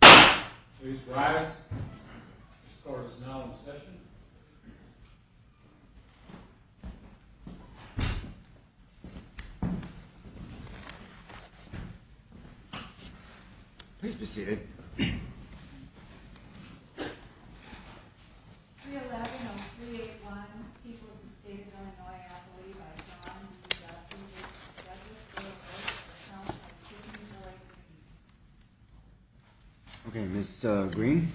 Please rise. This court is now in session. Please be seated. 311 of 381 people of the state of Illinois, I believe. Okay, Mr. Green.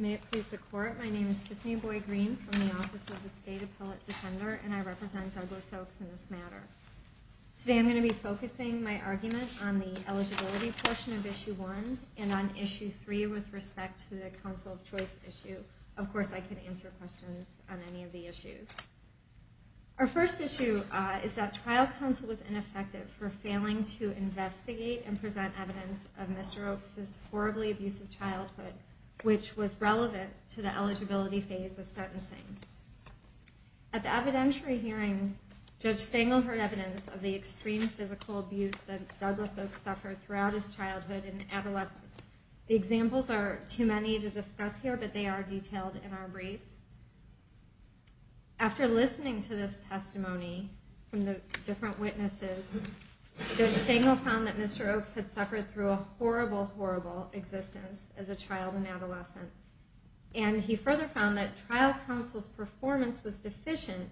May it please the court. My name is Tiffany Boyd Green from the office of the state appellate defender and I represent Douglas Oaks in this matter. Today I'm going to be focusing my argument on the eligibility portion of Issue 1 and on Issue 3 with respect to the Council of Choice issue. Of course I can answer questions on any of the issues. Our first issue is that trial counsel was ineffective for failing to investigate and present evidence of Mr. Oaks' horribly abusive childhood, which was relevant to the eligibility phase of sentencing. At the evidentiary hearing, Judge Stengel heard evidence of the extreme physical abuse that Douglas Oaks suffered throughout his childhood and adolescence. The examples are too many to discuss here, but they are detailed in our briefs. After listening to this testimony from the different witnesses, Judge Stengel found that Mr. Oaks had suffered through a horrible, horrible existence as a child and adolescent. And he further found that trial counsel's performance was deficient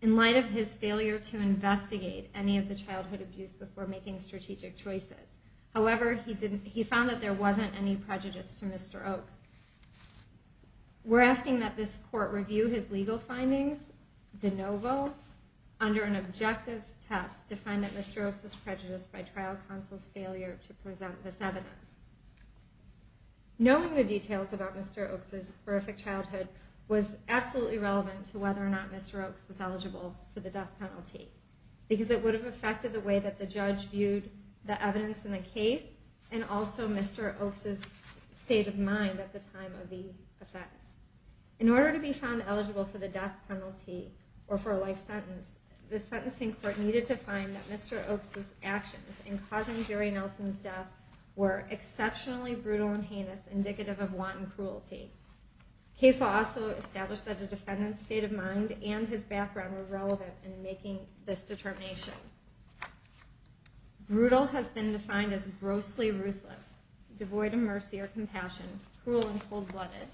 in light of his failure to investigate any of the childhood abuse before making strategic choices. However, he found that there wasn't any prejudice to Mr. Oaks. We're asking that this court review his legal findings de novo under an objective test to find that Mr. Oaks was prejudiced by trial counsel's failure to present this evidence. Knowing the details about Mr. Oaks' horrific childhood was absolutely relevant to whether or not Mr. Oaks was eligible for the death penalty, because it would have affected the way that the judge viewed the evidence in the case and also Mr. Oaks' state of mind at the time of the offense. In order to be found eligible for the death penalty or for a life sentence, the sentencing court needed to find that Mr. Oaks' actions in causing Jerry Nelson's death were exceptionally brutal and heinous, indicative of wanton cruelty. The case also established that the defendant's state of mind and his background were relevant in making this determination. Brutal has been defined as grossly ruthless, devoid of mercy or compassion, cruel and cold-blooded.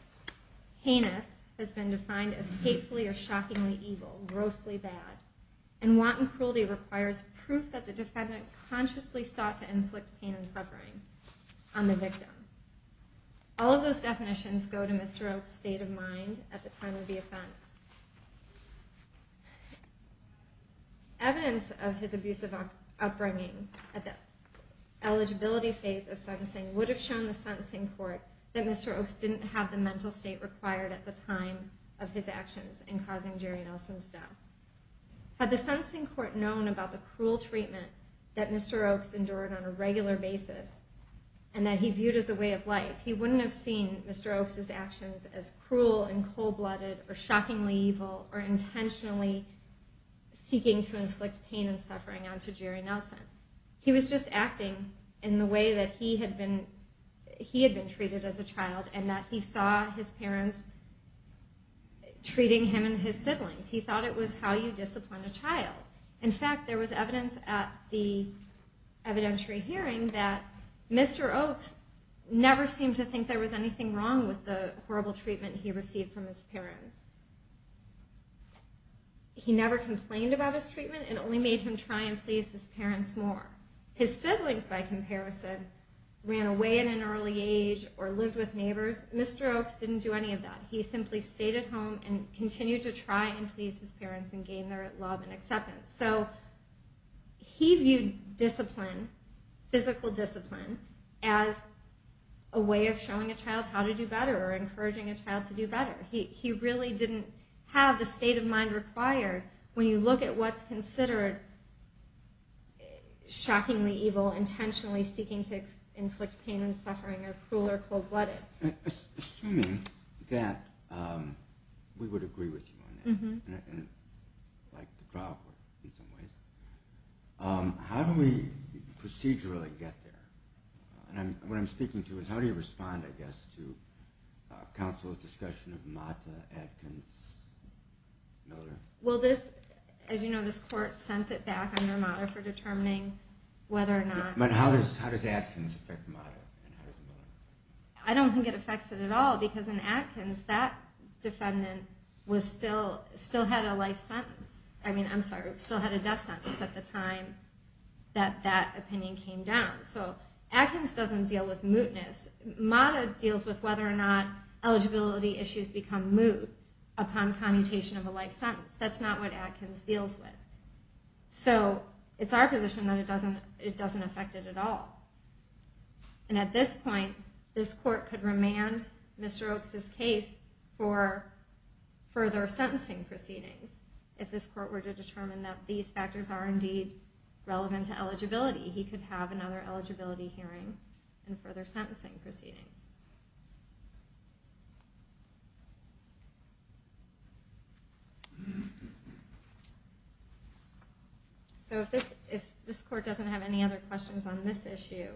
Heinous has been defined as hatefully or shockingly evil, grossly bad. And wanton cruelty requires proof that the defendant consciously sought to inflict pain and suffering on the victim. All of those definitions go to Mr. Oaks' state of mind at the time of the offense. Evidence of his abusive upbringing at the eligibility phase of sentencing would have shown the sentencing court that Mr. Oaks didn't have the mental state required at the time of his actions in causing Jerry Nelson's death. Had the sentencing court known about the cruel treatment that Mr. Oaks endured on a regular basis, and that he viewed as a way of life, he wouldn't have seen Mr. Oaks' actions as cruel and cold-blooded or shockingly evil or intentionally seeking to inflict pain and suffering onto Jerry Nelson. He was just acting in the way that he had been treated as a child and that he saw his parents treating him and his siblings. He thought it was how you discipline a child. In fact, there was evidence at the evidentiary hearing that Mr. Oaks never seemed to think there was anything wrong with the horrible treatment he received from his parents. He never complained about his treatment and only made him try and please his parents more. His siblings, by comparison, ran away at an early age or lived with neighbors. Mr. Oaks didn't do any of that. He simply stayed at home and continued to try and please his parents and gain their love and acceptance. He viewed physical discipline as a way of showing a child how to do better or encouraging a child to do better. He really didn't have the state of mind required when you look at what's considered shockingly evil, intentionally seeking to inflict pain and suffering or cruel or cold-blooded. Assuming that we would agree with you on that, like the trial court in some ways, how do we procedurally get there? What I'm speaking to is how do you respond, I guess, to counsel's discussion of Mata, Adkins, Miller? Well, as you know, this court sends it back under Mata for determining whether or not... But how does Adkins affect Mata? I don't think it affects it at all because in Adkins, that defendant still had a life sentence. I mean, I'm sorry, still had a death sentence at the time that that opinion came down. So Adkins doesn't deal with mootness. Mata deals with whether or not eligibility issues become moot upon commutation of a life sentence. That's not what Adkins deals with. So it's our position that it doesn't affect it at all. And at this point, this court could remand Mr. Oakes' case for further sentencing proceedings. If this court were to determine that these factors are indeed relevant to eligibility, he could have another eligibility hearing and further sentencing proceedings. So if this court doesn't have any other questions on this issue,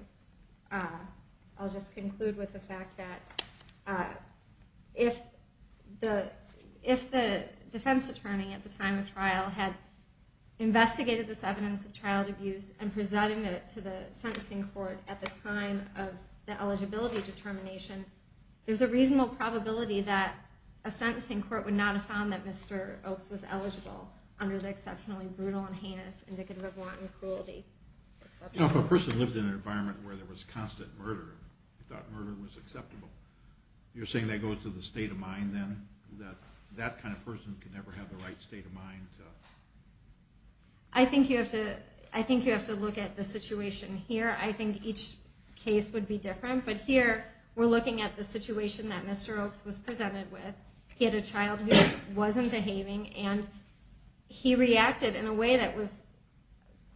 I'll just conclude with the fact that if the defense attorney at the time of trial had investigated this evidence of child abuse and presented it to the sentencing court at the time of the eligibility determination, there's a reasonable probability that a sentencing court would not have found that Mr. Oakes was eligible under the exceptionally brutal and heinous indicative of wanton cruelty. If a person lived in an environment where there was constant murder, you thought murder was acceptable, you're saying that goes to the state of mind then? That that kind of person could never have the right state of mind? I think you have to look at the situation here. I think each case would be different. But here, we're looking at the situation that Mr. Oakes was presented with. He had a child who wasn't behaving, and he reacted in a way that was,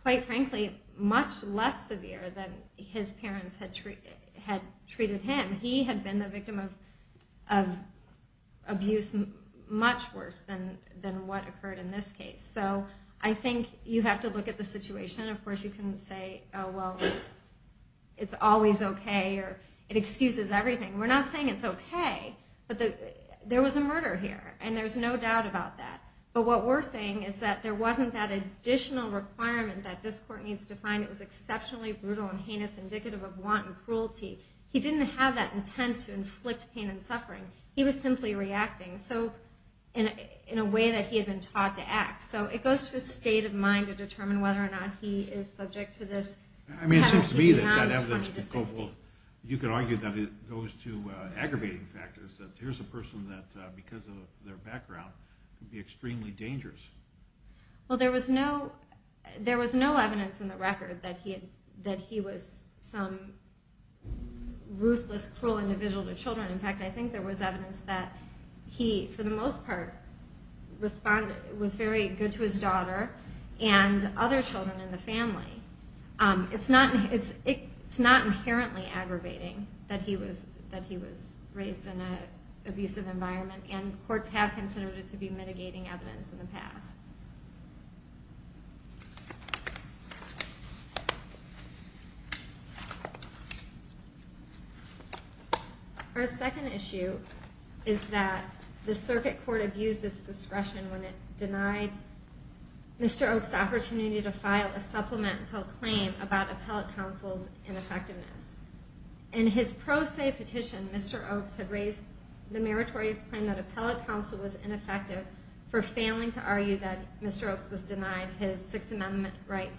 quite frankly, much less severe than his parents had treated him. He had been the victim of abuse much worse than what occurred in this case. So I think you have to look at the situation. Of course, you can say, oh, well, it's always okay, or it excuses everything. We're not saying it's okay. But there was a murder here, and there's no doubt about that. But what we're saying is that there wasn't that additional requirement that this court needs to find. It was exceptionally brutal and heinous indicative of wanton cruelty. He didn't have that intent to inflict pain and suffering. He was simply reacting in a way that he had been taught to act. So it goes to his state of mind to determine whether or not he is subject to this. I mean, it seems to me that that evidence could go both. You could argue that it goes to aggravating factors, that here's a person that, because of their background, could be extremely dangerous. Well, there was no evidence in the record that he was some ruthless, cruel individual to children. In fact, I think there was evidence that he, for the most part, was very good to his daughter and other children in the family. It's not inherently aggravating that he was raised in an abusive environment, and courts have considered it to be mitigating evidence in the past. Our second issue is that the circuit court abused its discretion when it denied Mr. Oaks the opportunity to file a supplemental claim about Appellate Counsel's ineffectiveness. In his pro se petition, Mr. Oaks had raised the meritorious claim that Appellate Counsel was ineffective for failing to argue that Mr. Oaks was denied his success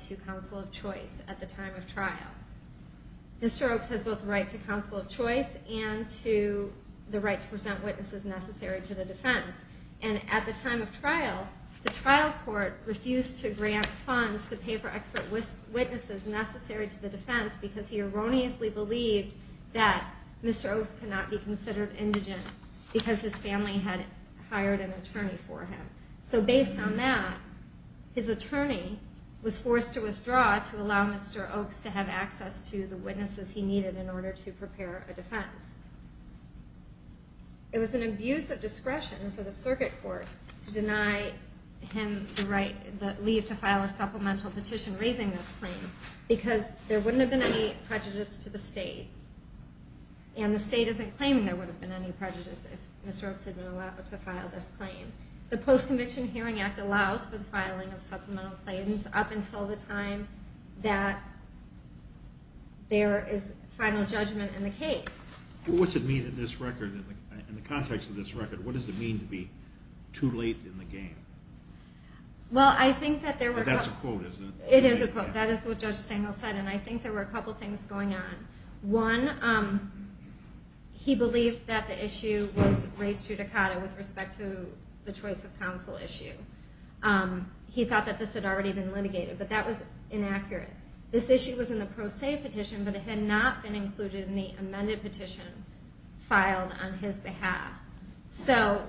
to counsel of choice at the time of trial. Mr. Oaks has both the right to counsel of choice and the right to present witnesses necessary to the defense. And at the time of trial, the trial court refused to grant funds to pay for expert witnesses necessary to the defense because he erroneously believed that Mr. Oaks could not be considered indigent because his family had hired an attorney for him. So based on that, his attorney was forced to withdraw to allow Mr. Oaks to have access to the witnesses he needed in order to prepare a defense. It was an abuse of discretion for the circuit court to deny him the leave to file a supplemental petition raising this claim because there wouldn't have been any prejudice to the state, and the state isn't claiming there would have been any prejudice if Mr. Oaks had been allowed to file this claim. The Post-Conviction Hearing Act allows for the filing of supplemental claims up until the time that there is final judgment in the case. Well, what's it mean in this record? In the context of this record, what does it mean to be too late in the game? Well, I think that there were... But that's a quote, isn't it? It is a quote. That is what Judge Stengel said, and I think there were a couple things going on. One, he believed that the issue was res judicata with respect to the choice of counsel issue. He thought that this had already been litigated, but that was inaccurate. This issue was in the pro se petition, but it had not been included in the amended petition filed on his behalf. So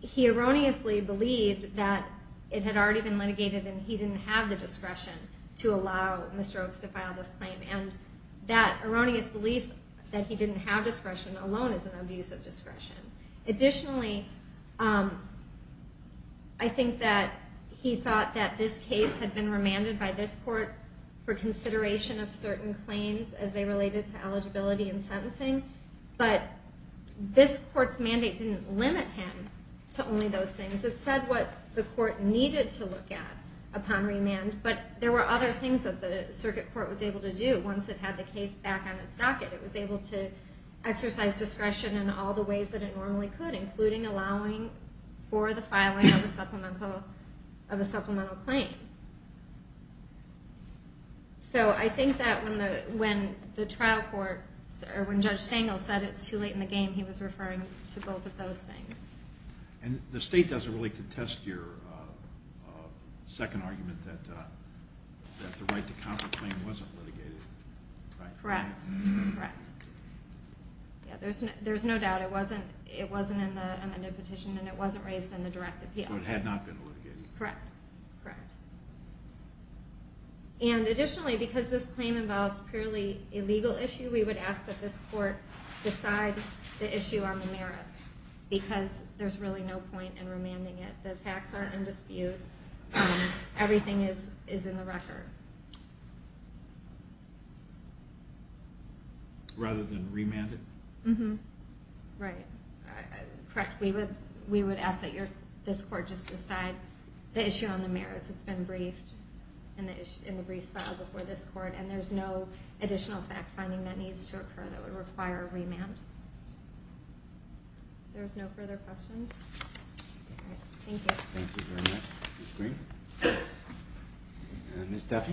he erroneously believed that it had already been litigated and he didn't have the discretion to allow Mr. Oaks to file this claim. And that erroneous belief that he didn't have discretion alone is an abuse of discretion. Additionally, I think that he thought that this case had been remanded by this court for consideration of certain claims as they related to eligibility and sentencing, but this court's mandate didn't limit him to only those things. It said what the court needed to look at upon remand, but there were other things that the circuit court was able to do once it had the case back on its docket. It was able to exercise discretion in all the ways that it normally could, including allowing for the filing of a supplemental claim. So I think that when Judge Stengel said it's too late in the game, he was referring to both of those things. And the state doesn't really contest your second argument that the right to counterclaim wasn't litigated, right? Correct. Correct. There's no doubt it wasn't in the amended petition and it wasn't raised in the direct appeal. So it had not been litigated? Correct. Correct. And additionally, because this claim involves purely a legal issue, we would ask that this court decide the issue on the merits because there's really no point in remanding it. The attacks are in dispute. Everything is in the record. Rather than remand it? Right. Correct. We would ask that this court just decide the issue on the merits. It's been briefed in the briefs file before this court, and there's no additional fact-finding that needs to occur that would require a remand. If there's no further questions? Thank you. Thank you very much, Ms. Green. Ms. Duffy?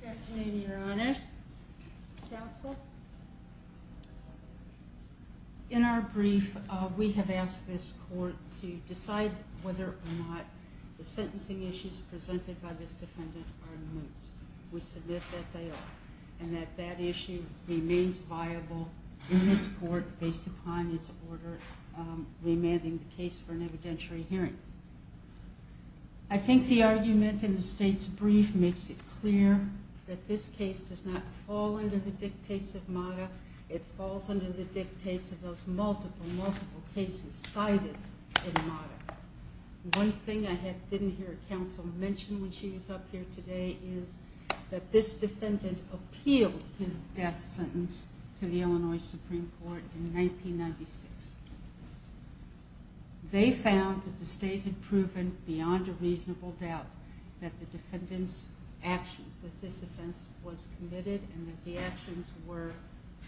Good afternoon, Your Honors. Counsel? In our brief, we have asked this court to decide whether or not the sentencing issues presented by this defendant are moot. We submit that they are, and that that issue remains viable in this court based upon its order remanding the case for an evidentiary hearing. I think the argument in the State's brief makes it clear that this case does not fall under the dictates of MOTA. It falls under the dictates of those multiple, multiple cases cited in MOTA. One thing I didn't hear counsel mention when she was up here today is that this defendant appealed his death sentence to the Illinois Supreme Court in 1996. They found that the State had proven beyond a reasonable doubt that the defendant's actions, that this offense was committed and that the actions were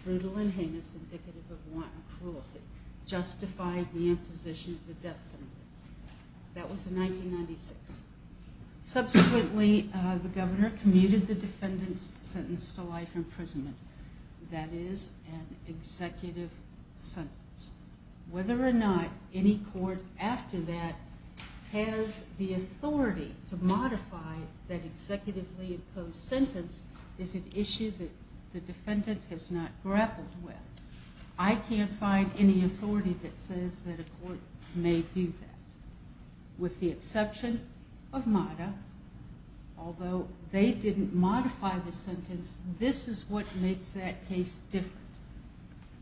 brutal and heinous, indicative of wanton cruelty, justified the imposition of the death sentence. That was in 1996. Subsequently, the governor commuted the defendant's sentence to life imprisonment. That is an executive sentence. Whether or not any court after that has the authority to modify that sentence is an issue that the defendant has not grappled with. I can't find any authority that says that a court may do that. With the exception of MOTA, although they didn't modify the sentence, this is what makes that case different.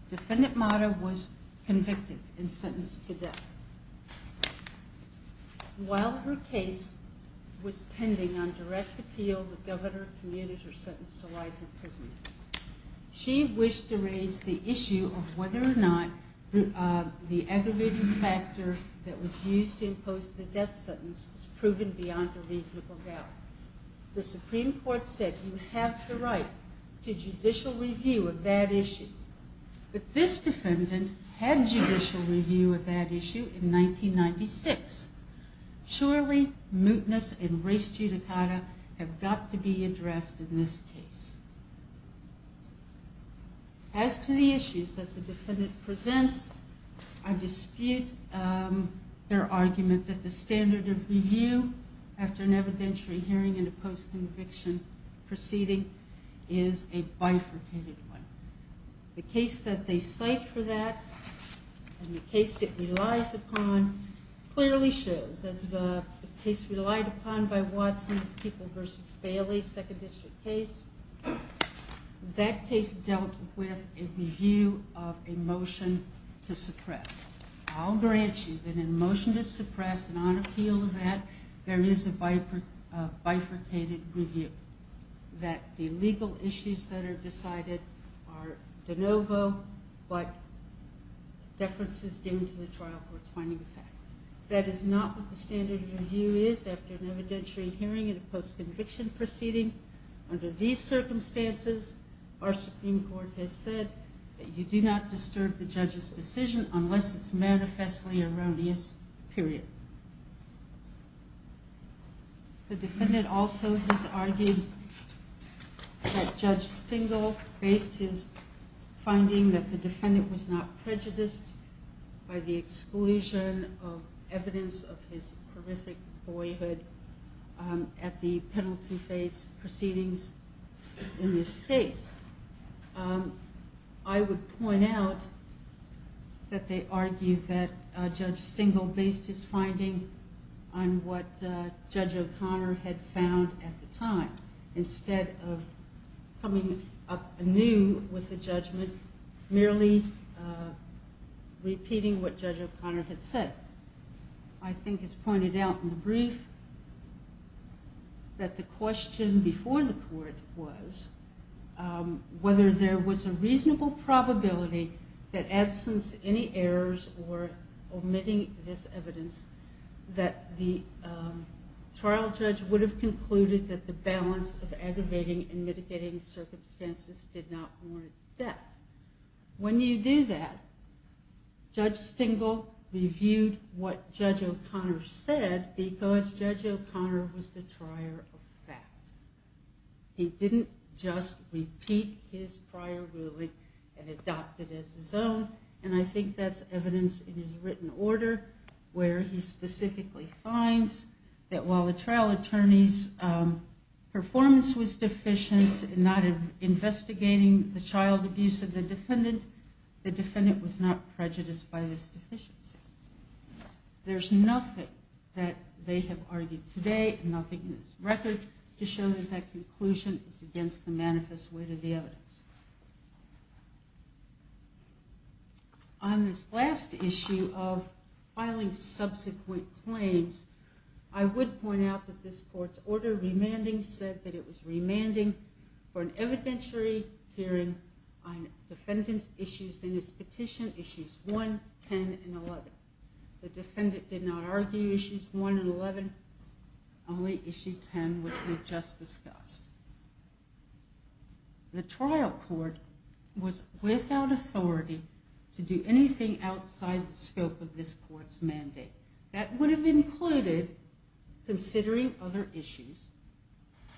Defendant MOTA was convicted and sentenced to death. While her case was pending on direct appeal, the governor commuted her sentence to life imprisonment. She wished to raise the issue of whether or not the aggravating factor that was used to impose the death sentence was proven beyond a reasonable doubt. The Supreme Court said you have the right to judicial review of that issue. But this defendant had judicial review of that issue in 1996. Surely mootness and race judicata have got to be addressed in this case. As to the issues that the defendant presents, I dispute their argument that the standard of review after an evidentiary hearing and a post-conviction proceeding is a bifurcated one. The case that they cite for that and the case it relies upon clearly shows that the case relied upon by Watson's People v. Bailey Second District case, that case dealt with a review of a motion to suppress. I'll grant you that in a motion to suppress and on appeal of that, there is a bifurcated review. That the legal issues that are decided are de novo, but deference is given to the trial court's finding of fact. That is not what the standard of review is after an evidentiary hearing and a post-conviction proceeding. Under these circumstances, our Supreme Court has said that you do not disturb the judge's decision unless it's manifestly erroneous, period. The defendant also has argued that Judge Stengel based his finding that the defendant was not prejudiced by the exclusion of evidence of his horrific boyhood at the penalty phase proceedings in this case. I would point out that they argue that Judge Stengel based his finding on what Judge O'Connor had found at the time instead of coming up anew with a judgment merely repeating what Judge O'Connor had said. I think it's pointed out in the brief that the question before the court was whether there was a reasonable probability that absence of any errors or omitting this evidence that the trial judge would have concluded that the balance of aggravating and mitigating circumstances did not warrant death. When you do that, Judge Stengel reviewed what Judge O'Connor said because Judge O'Connor was the trier of fact. He didn't just repeat his prior ruling and adopt it as his own, and I think that's evidence in his written order where he specifically finds that while the trial attorney's performance was deficient in not investigating the child abuse of the defendant, the defendant was not prejudiced by this deficiency. There's nothing that they have argued today, nothing in this record, to show that that conclusion is against the manifest weight of the evidence. On this last issue of filing subsequent claims, I would point out that this court's order of remanding said that it was remanding for an evidentiary hearing on defendant's issues in his petition, issues 1, 10, and 11. The defendant did not argue issues 1 and 11, only issue 10, which we just discussed. The trial court was without authority to do anything outside the scope of this court's mandate. That would have included considering other issues,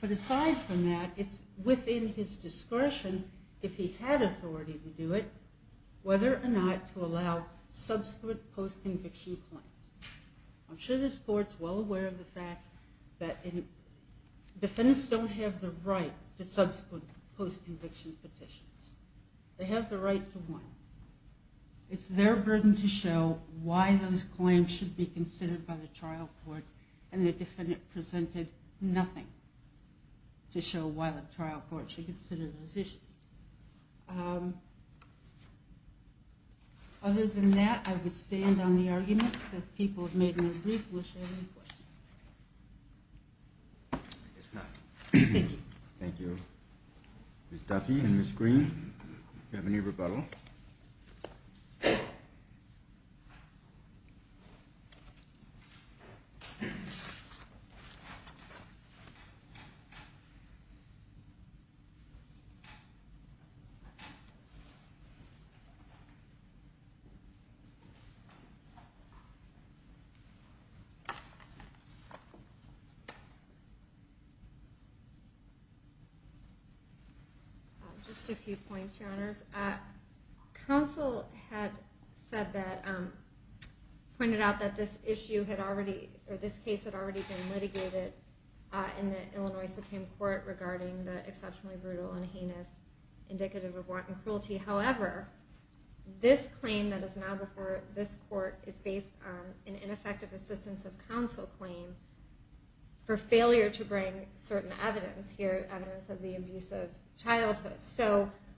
but aside from that, it's within his discretion, if he had authority to do it, whether or not to allow subsequent post-conviction claims. I'm sure this court's well aware of the fact that defendants don't have the right to subsequent post-conviction petitions. They have the right to one. It's their burden to show why those claims should be considered by the trial court, and the defendant presented nothing to show why the trial court should consider those issues. Other than that, I would stand on the arguments that people have made in their brief. We'll share any questions. Thank you. Ms. Duffy and Ms. Green, do you have any rebuttal? Just a few points, Your Honors. Counsel had pointed out that this case had already been litigated in the Illinois Supreme Court regarding the exceptionally brutal and heinous indicative of warranted cruelty. However, this claim that is now before this court is based on an ineffective assistance of counsel claim for failure to bring certain evidence, here evidence of the abuse of childhood.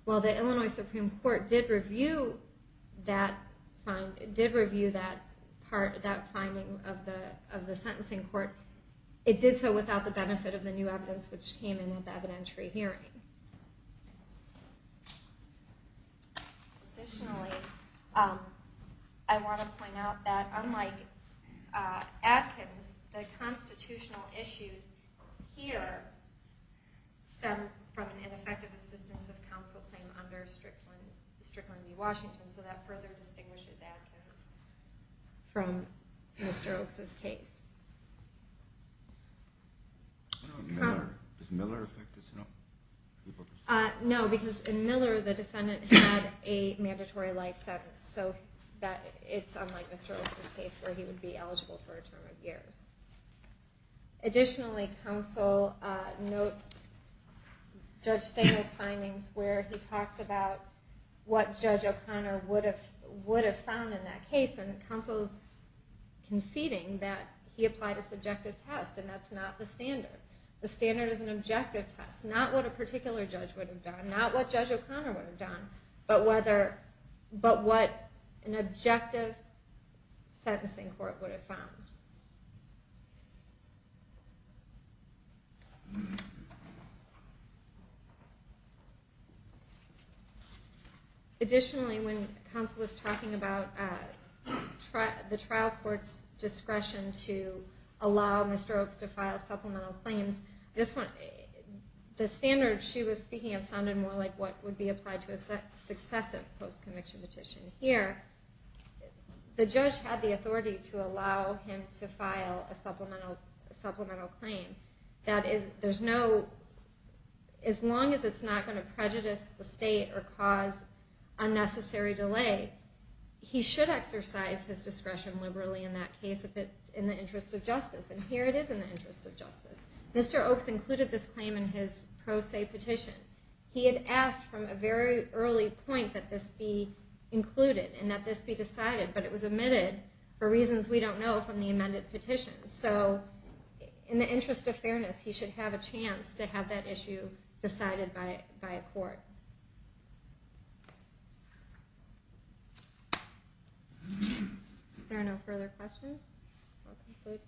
While the Illinois Supreme Court did review that finding of the sentencing court, it did so without the benefit of the new evidence which came in at the evidentiary hearing. Additionally, I want to point out that unlike Adkins, the constitutional issues here stem from an ineffective assistance of counsel claim under Strickland v. Washington, so that further distinguishes Adkins from Mr. Oaks' case. Does Miller affect this? No, because in Miller the defendant had a mandatory life sentence, so it's unlike Mr. Oaks' case where he would be eligible for a term of years. Additionally, counsel notes Judge Stengel's findings where he talks about what Judge O'Connor would have found in that case, and counsel is conceding that he applied a subjective test, and that's not the standard. The standard is an objective test, not what a particular judge would have done, not what Judge O'Connor would have done, but what an objective sentencing court would have found. Additionally, when counsel was talking about the trial court's discretion to allow Mr. Oaks to file supplemental claims, the standard she was speaking of sounded more like what would be applied to a successive post-conviction petition. Here, the judge had the authority to allow him to file a supplemental claim. As long as it's not going to prejudice the state or cause unnecessary delay, he should exercise his discretion liberally in that case if it's in the interest of justice, and here it is in the interest of justice. Mr. Oaks included this claim in his pro se petition. He had asked from a very early point that this be included and that this be decided, but it was omitted for reasons we don't know from the amended petition, so in the interest of fairness, he should have a chance to have that issue decided by a court. If there are no further questions, we'll conclude.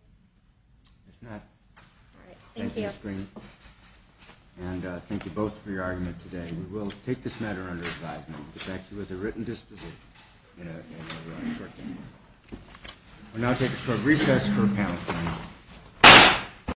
Thank you, Ms. Green, and thank you both for your argument today. We will take this matter under advisement. We'll now take a short recess for panel discussion.